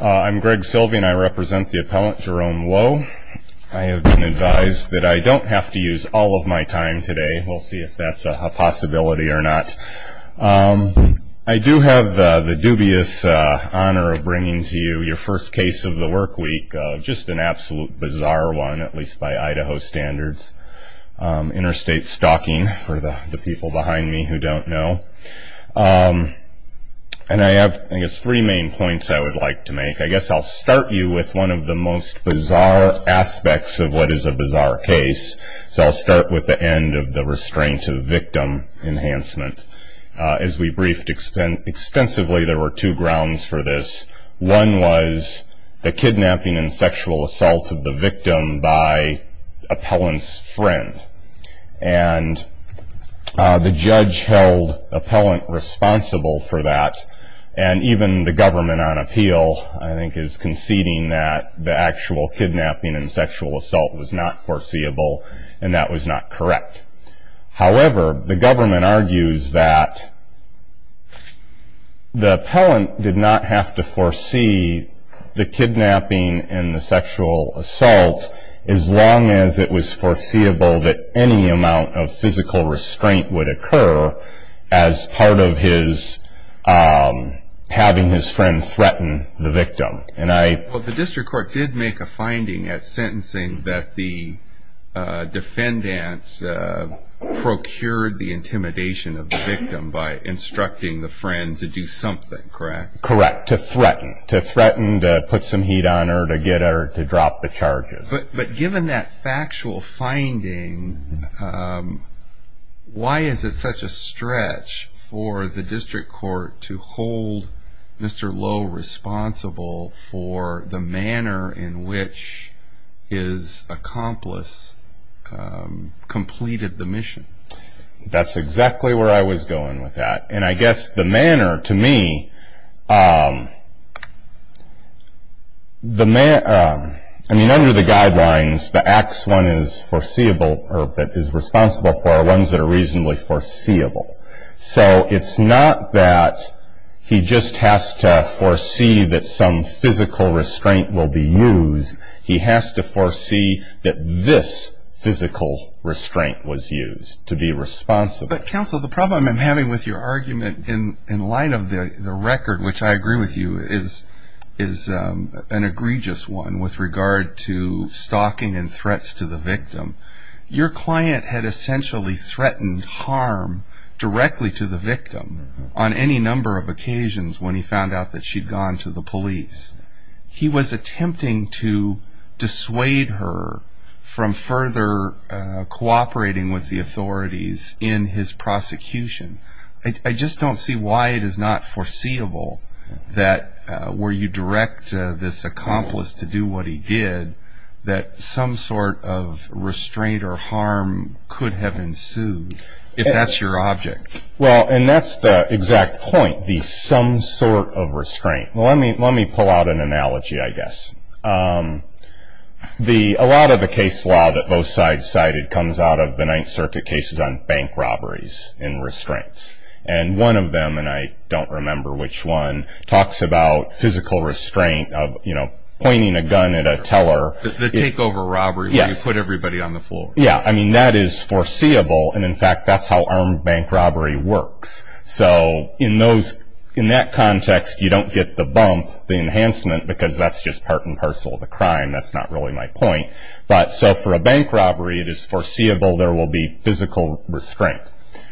I'm Greg Silvey and I represent the appellant Jerome Loew. I have been advised that I don't have to use all of my time today. We'll see if that's a possibility or not. I do have the dubious honor of bringing to you your first case of the work week. Just an absolute bizarre one, at least by Idaho standards. Interstate stalking for the people behind me who don't know. I have three main points I would like to make. I guess I'll start you with one of the most bizarre aspects of what is a bizarre case. I'll start with the end of the restraint of victim enhancement. As we briefed extensively, there were two grounds for this. One was the kidnapping and sexual assault of the victim by appellant's friend. And the judge held appellant responsible for that and even the government on appeal I think is conceding that the actual kidnapping and sexual assault was not foreseeable and that was not correct. However, the government argues that the appellant did not have to foresee the kidnapping and the sexual assault as long as it was foreseeable that any amount of physical restraint would occur as part of his having his friend threaten the victim. The district court did make a finding at sentencing that the defendant procured the intimidation of the victim by instructing the friend to do something, correct? Correct. To threaten. To threaten to put some heat on her, to get her to drop the charges. But given that factual finding, why is it such a stretch for the district court to hold Mr. Lowe responsible for the manner in which his accomplice completed the mission? That's exactly where I was going with that. And I guess the manner to me, I mean under the guidelines, the acts one is foreseeable or is responsible for are ones that are reasonably foreseeable. So it's not that he just has to foresee that some physical restraint will be used. He has to foresee that this physical restraint was used to be responsible. But counsel, the problem I'm having with your argument in light of the record, which I agree with you is an egregious one with regard to stalking and threats to the victim, your client had essentially threatened harm directly to the victim on any number of occasions when he found out that she'd gone to the police. He was attempting to dissuade her from further cooperating with the authorities in his prosecution. I just don't see why it is not foreseeable that where you direct this accomplice to do what he did, that some sort of restraint or harm could have ensued if that's your object. Well, and that's the exact point, the some sort of restraint. Let me pull out an analogy, I guess. A lot of the case law that both sides cited comes out of the Ninth Circuit cases on bank robberies and restraints. And one of them, and I don't remember which one, talks about physical restraint of pointing a gun at a teller. The takeover robbery where you put everybody on the floor. Yeah, I mean, that is foreseeable. And in fact, that's how armed bank robbery works. So in that context, you don't get the bump, the enhancement, because that's just part and parcel of the crime. That's not really my point. But so for a bank robbery, it is foreseeable there will be physical restraint.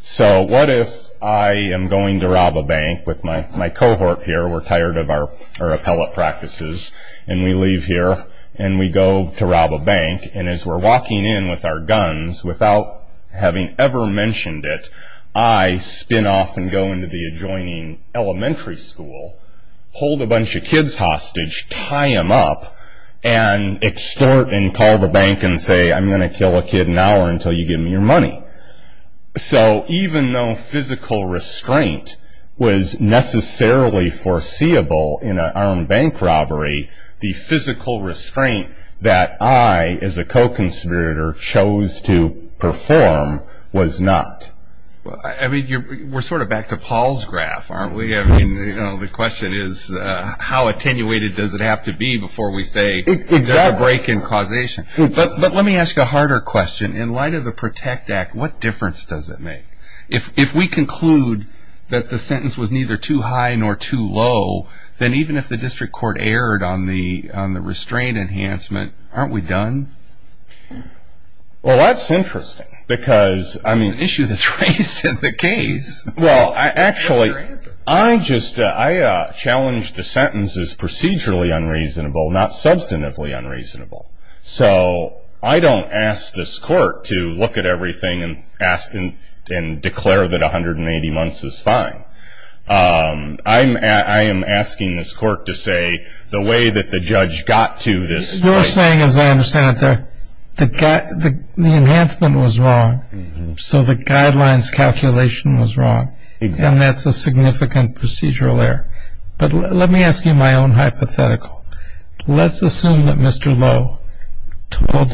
So what if I am going to rob a bank with my cohort here, we're tired of our appellate practices, and we leave here and we go to rob a bank, and as we're walking in with our guns, without having ever mentioned it, I spin off and go into the adjoining elementary school, hold a bunch of kids hostage, tie them up, and extort and call the bank and say, I'm going to kill a kid now or until you give me your money. So even though physical restraint was necessarily foreseeable in an armed bank robbery, the physical restraint that I, as a co-conspirator, chose to perform was not. Well, I mean, we're sort of back to Paul's graph, aren't we? I mean, the question is, how attenuated does it have to be before we say there's a break in causation? But let me ask a harder question. In light of the PROTECT Act, what difference does it make? If we conclude that the sentence was neither too high nor too low, then even if the district court erred on the restraint enhancement, aren't we done? Well, that's interesting because, I mean... It's an issue that's raised in the case. Well, actually, I just challenged the sentence as procedurally unreasonable, not substantively unreasonable. So I don't ask this court to look at everything and ask and declare that 180 months is fine. I am asking this court to say the way that the judge got to this point... Because you're saying, as I understand it, the enhancement was wrong, so the guidelines calculation was wrong, and that's a significant procedural error. But let me ask you my own hypothetical. Let's assume that Mr. Lowe told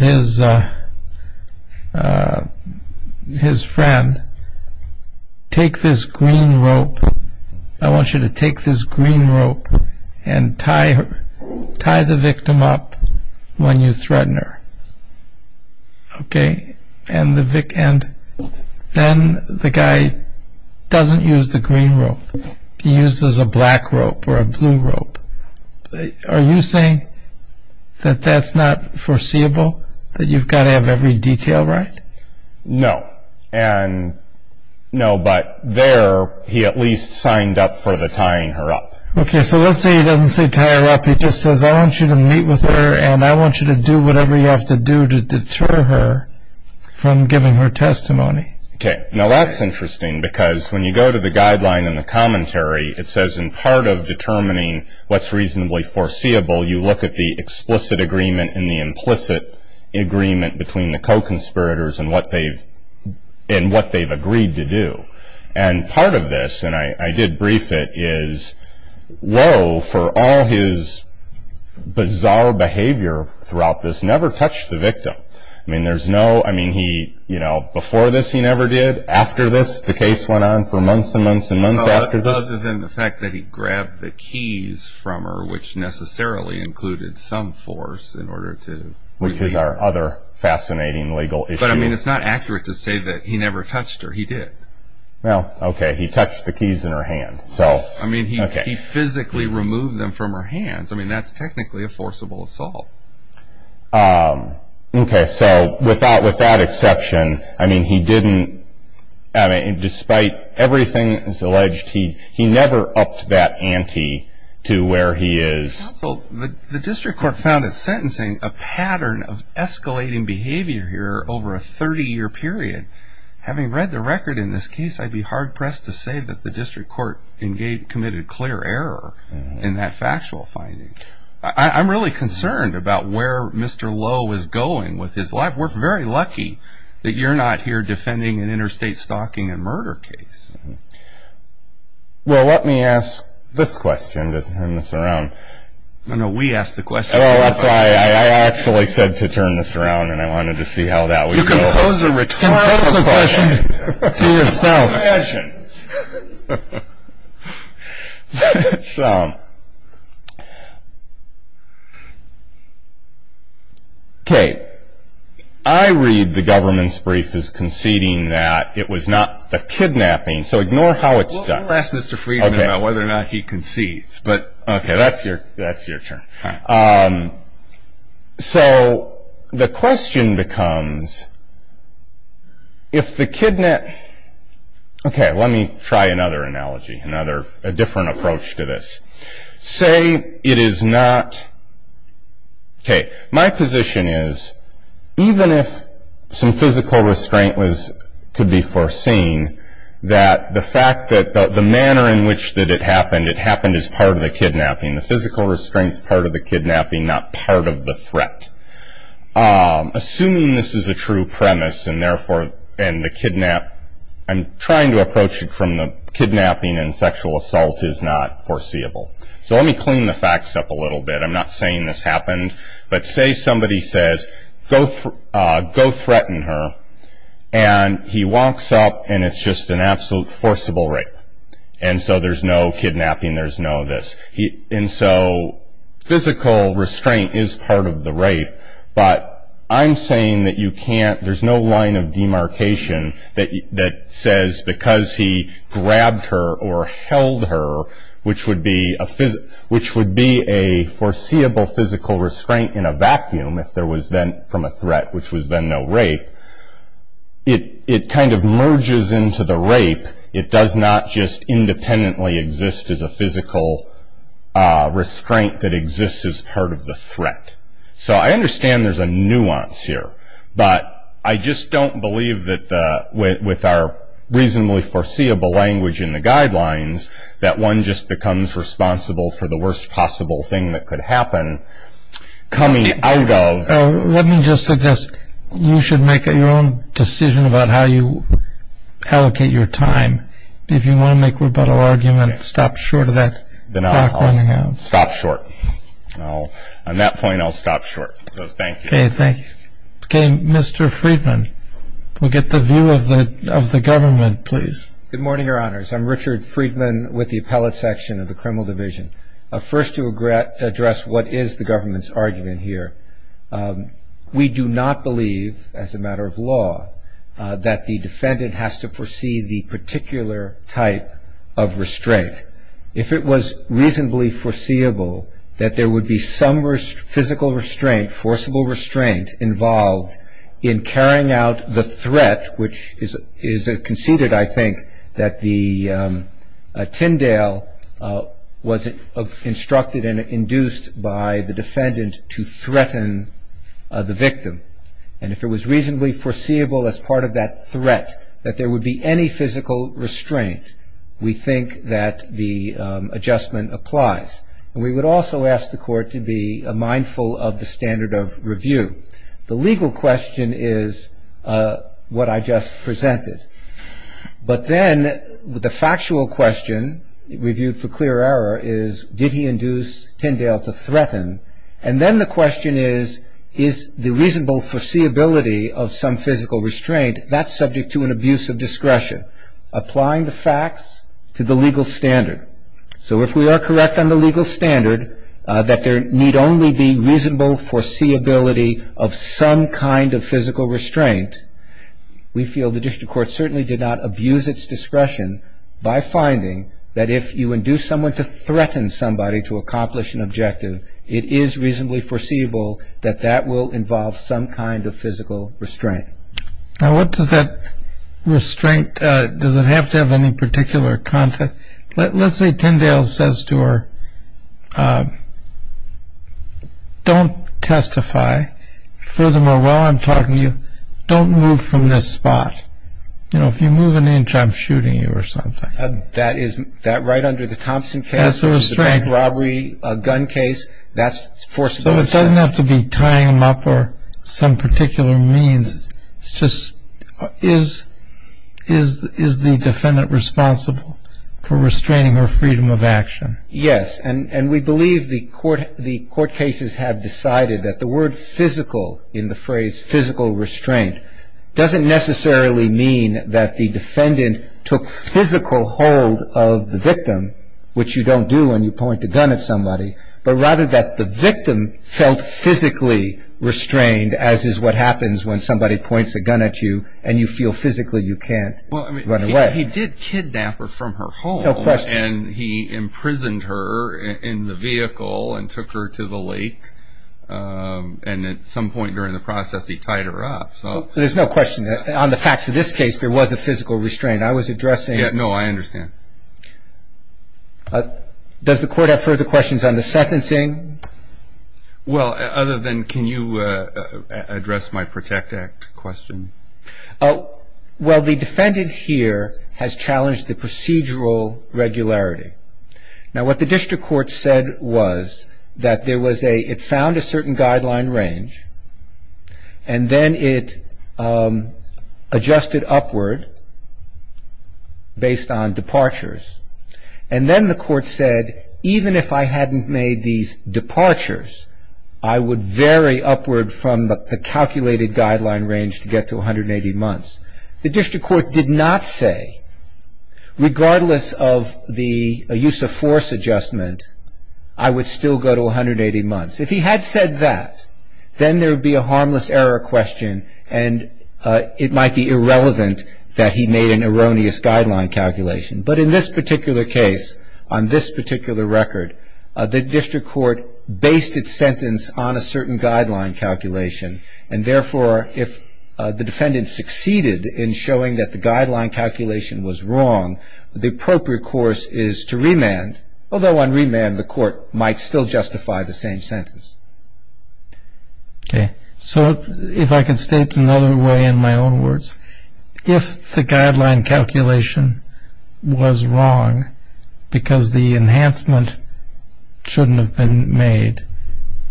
his friend, take this green rope. I want you to take this green rope and tie the victim up when you threaten her. Okay, and then the guy doesn't use the green rope. He uses a black rope or a blue rope. Are you saying that that's not foreseeable? That you've got to have every detail right? No, but there he at least signed up for the tying her up. Okay, so let's say he doesn't say tie her up. He just says, I want you to meet with her and I want you to do whatever you have to do to deter her from giving her testimony. Okay, now that's interesting because when you go to the guideline in the commentary, it says in part of determining what's reasonably foreseeable, you look at the explicit agreement and the implicit agreement between the co-conspirators and what they've agreed to do. And part of this, and I did brief it, is Lowe, for all his bizarre behavior throughout this, never touched the victim. Before this he never did. After this the case went on for months and months and months. Other than the fact that he grabbed the keys from her, which necessarily included some force in order to... Which is our other fascinating legal issue. But I mean, it's not accurate to say that he never touched her. He did. Well, okay, he touched the keys in her hand. I mean, he physically removed them from her hands. I mean, that's technically a forcible assault. Okay, so with that exception, I mean, he didn't, despite everything that's alleged, he never upped that ante to where he is... The district court found in sentencing a pattern of escalating behavior here over a 30-year period. Having read the record in this case, I'd be hard-pressed to say that the district court committed clear error in that factual finding. I'm really concerned about where Mr. Lowe is going with his life. We're very lucky that you're not here defending an interstate stalking and murder case. Well, let me ask this question to turn this around. No, no, we ask the question. Oh, that's right. I actually said to turn this around, and I wanted to see how that would go. You can pose a return question to yourself. Okay, I read the government's brief as conceding that it was not the kidnapping, so ignore how it's done. We'll ask Mr. Friedman about whether or not he concedes. Okay, that's your turn. So the question becomes, if the kidnap... Okay, let me try another analogy, a different approach to this. Say it is not... Okay, my position is, even if some physical restraint could be foreseen, that the fact that the manner in which it happened, it happened as part of the kidnapping. The physical restraint's part of the kidnapping, not part of the threat. Assuming this is a true premise and, therefore, the kidnap... I'm trying to approach it from the kidnapping and sexual assault is not foreseeable. So let me clean the facts up a little bit. I'm not saying this happened, but say somebody says, go threaten her, and he walks up and it's just an absolute forcible rape, and so there's no kidnapping, there's no this. And so physical restraint is part of the rape, but I'm saying that you can't... There's no line of demarcation that says, because he grabbed her or held her, which would be a foreseeable physical restraint in a vacuum, if there was then from a threat, which was then no rape. It kind of merges into the rape. It does not just independently exist as a physical restraint that exists as part of the threat. So I understand there's a nuance here, but I just don't believe that with our reasonably foreseeable language in the guidelines, that one just becomes responsible for the worst possible thing that could happen coming out of... Let me just suggest you should make your own decision about how you allocate your time. If you want to make a rebuttal argument, stop short of that. Then I'll stop short. On that point, I'll stop short, because thank you. Okay, thank you. Okay, Mr. Friedman, we'll get the view of the government, please. Good morning, Your Honors. I'm Richard Friedman with the Appellate Section of the Criminal Division. First to address what is the government's argument here. We do not believe, as a matter of law, that the defendant has to foresee the particular type of restraint. If it was reasonably foreseeable that there would be some physical restraint, forcible restraint involved in carrying out the threat, which is conceded, I think, that the Tyndale was instructed and induced by the defendant to threaten the victim. And if it was reasonably foreseeable as part of that threat that there would be any physical restraint, we think that the adjustment applies. And we would also ask the Court to be mindful of the standard of review. The legal question is what I just presented. But then the factual question, reviewed for clear error, is did he induce Tyndale to threaten? And then the question is, is the reasonable foreseeability of some physical restraint, that's subject to an abuse of discretion, applying the facts to the legal standard. So if we are correct on the legal standard that there need only be reasonable foreseeability of some kind of physical restraint, we feel the district court certainly did not abuse its discretion by finding that if you induce someone to threaten somebody to accomplish an objective, it is reasonably foreseeable that that will involve some kind of physical restraint. All right. Now, what does that restraint, does it have to have any particular content? Let's say Tyndale says to her, don't testify. Furthermore, while I'm talking to you, don't move from this spot. You know, if you move an inch, I'm shooting you or something. That right under the Thompson case, which is a bank robbery gun case, that's forcible restraint. So it doesn't have to be tying them up or some particular means. It's just, is the defendant responsible for restraining her freedom of action? Yes, and we believe the court cases have decided that the word physical in the phrase physical restraint doesn't necessarily mean that the defendant took physical hold of the victim, which you don't do when you point a gun at somebody, but rather that the victim felt physically restrained, as is what happens when somebody points a gun at you and you feel physically you can't run away. Well, I mean, he did kidnap her from her home. No question. And he imprisoned her in the vehicle and took her to the lake. And at some point during the process, he tied her up, so. There's no question that on the facts of this case, there was a physical restraint. I was addressing. No, I understand. Does the court have further questions on the sentencing? Well, other than can you address my Protect Act question? Well, the defendant here has challenged the procedural regularity. Now, what the district court said was that there was a, it found a certain guideline range, and then it adjusted upward based on departures. And then the court said, even if I hadn't made these departures, I would vary upward from the calculated guideline range to get to 180 months. The district court did not say, regardless of the use of force adjustment, I would still go to 180 months. If he had said that, then there would be a harmless error question, and it might be irrelevant that he made an erroneous guideline calculation. But in this particular case, on this particular record, the district court based its sentence on a certain guideline calculation. And therefore, if the defendant succeeded in showing that the guideline calculation was wrong, the appropriate course is to remand, although on remand the court might still justify the same sentence. Okay. So if I could state another way in my own words, if the guideline calculation was wrong because the enhancement shouldn't have been made,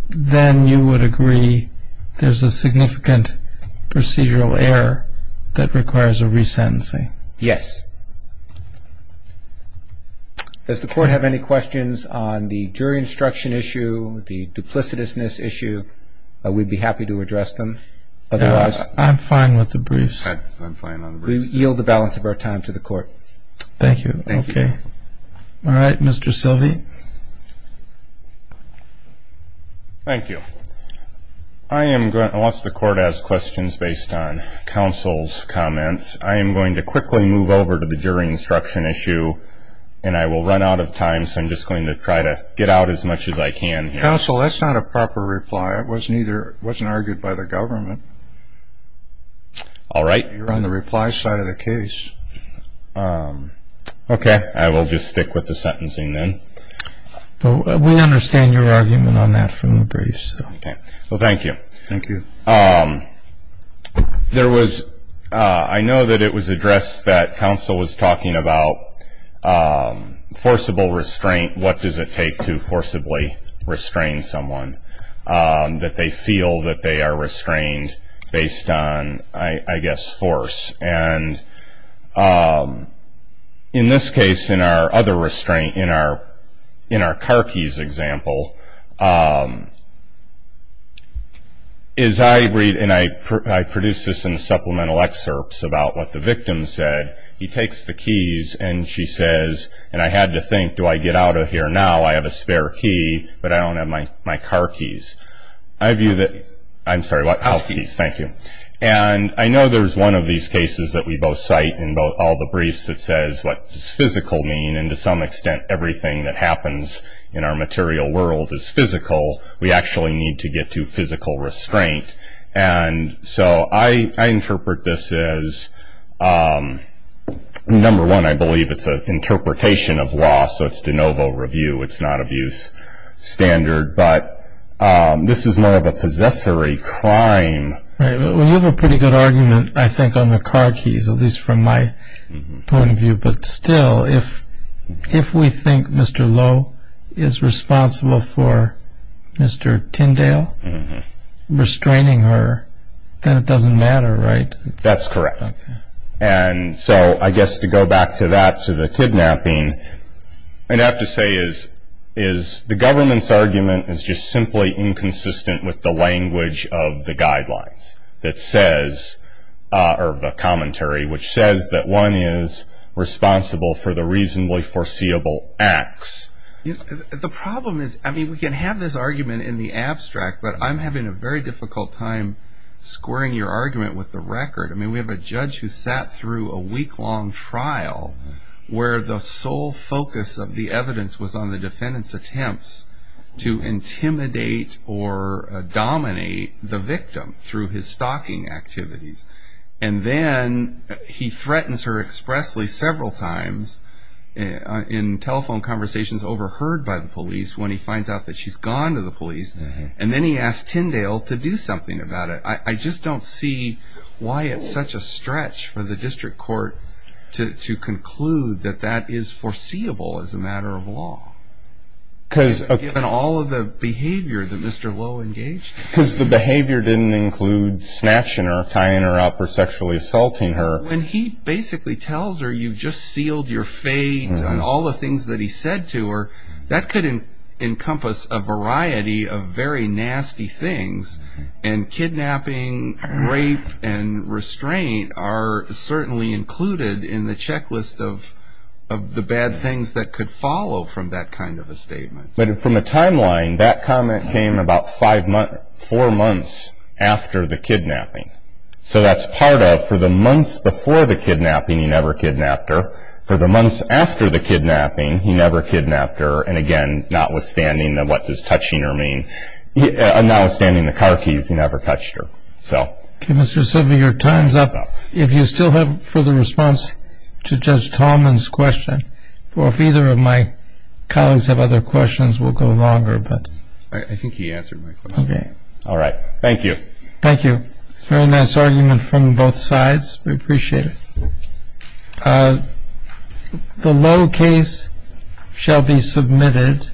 then you would agree there's a significant procedural error that requires a resentencing? Yes. Does the court have any questions on the jury instruction issue, the duplicitousness issue? We'd be happy to address them. I'm fine with the briefs. I'm fine on the briefs. We yield the balance of our time to the court. Thank you. Okay. All right. Mr. Silvey. Thank you. I am going to ask the court questions based on counsel's comments. I am going to quickly move over to the jury instruction issue, and I will run out of time, so I'm just going to try to get out as much as I can here. Counsel, that's not a proper reply. It wasn't argued by the government. All right. You're on the reply side of the case. Okay. I will just stick with the sentencing then. We understand your argument on that from the briefs. Okay. Well, thank you. Thank you. I know that it was addressed that counsel was talking about forcible restraint, what does it take to forcibly restrain someone, that they feel that they are restrained based on, I guess, force. And in this case, in our car keys example, as I read, and I produced this in supplemental excerpts about what the victim said, he takes the keys and she says, and I had to think, do I get out of here now? I have a spare key, but I don't have my car keys. I view that. I'm sorry, what? Car keys. Thank you. And I know there's one of these cases that we both cite in all the briefs that says, what does physical mean? And to some extent, everything that happens in our material world is physical. We actually need to get to physical restraint. And so I interpret this as, number one, I believe it's an interpretation of law, so it's de novo review. It's not abuse standard. But this is more of a possessory crime. Right. Well, you have a pretty good argument, I think, on the car keys, at least from my point of view. But still, if we think Mr. Lowe is responsible for Mr. Tyndale restraining her, then it doesn't matter, right? That's correct. And so I guess to go back to that, to the kidnapping, I'd have to say is the government's argument is just simply inconsistent with the language of the guidelines that says, or the commentary, which says that one is responsible for the reasonably foreseeable acts. The problem is, I mean, we can have this argument in the abstract, but I'm having a very difficult time squaring your argument with the record. I mean, we have a judge who sat through a week-long trial where the sole focus of the evidence was on the defendant's attempts to intimidate or dominate the victim through his stalking activities. And then he threatens her expressly several times in telephone conversations, overheard by the police, when he finds out that she's gone to the police. And then he asked Tyndale to do something about it. I just don't see why it's such a stretch for the district court to conclude that that is foreseeable as a matter of law, given all of the behavior that Mr. Lowe engaged in. Because the behavior didn't include snatching her, tying her up, or sexually assaulting her. When he basically tells her, you just sealed your fate on all the things that he said to her, that could encompass a variety of very nasty things. And kidnapping, rape, and restraint are certainly included in the checklist of the bad things that could follow from that kind of a statement. But from a timeline, that comment came about four months after the kidnapping. So that's part of, for the months before the kidnapping, he never kidnapped her. For the months after the kidnapping, he never kidnapped her. And again, notwithstanding, what does touching her mean? Notwithstanding the car keys, he never touched her. Okay, Mr. Silver, your time's up. If you still have further response to Judge Tallman's question, or if either of my colleagues have other questions, we'll go longer. I think he answered my question. Okay. All right. Thank you. Thank you. It's a very nice argument from both sides. We appreciate it. The low case shall be submitted.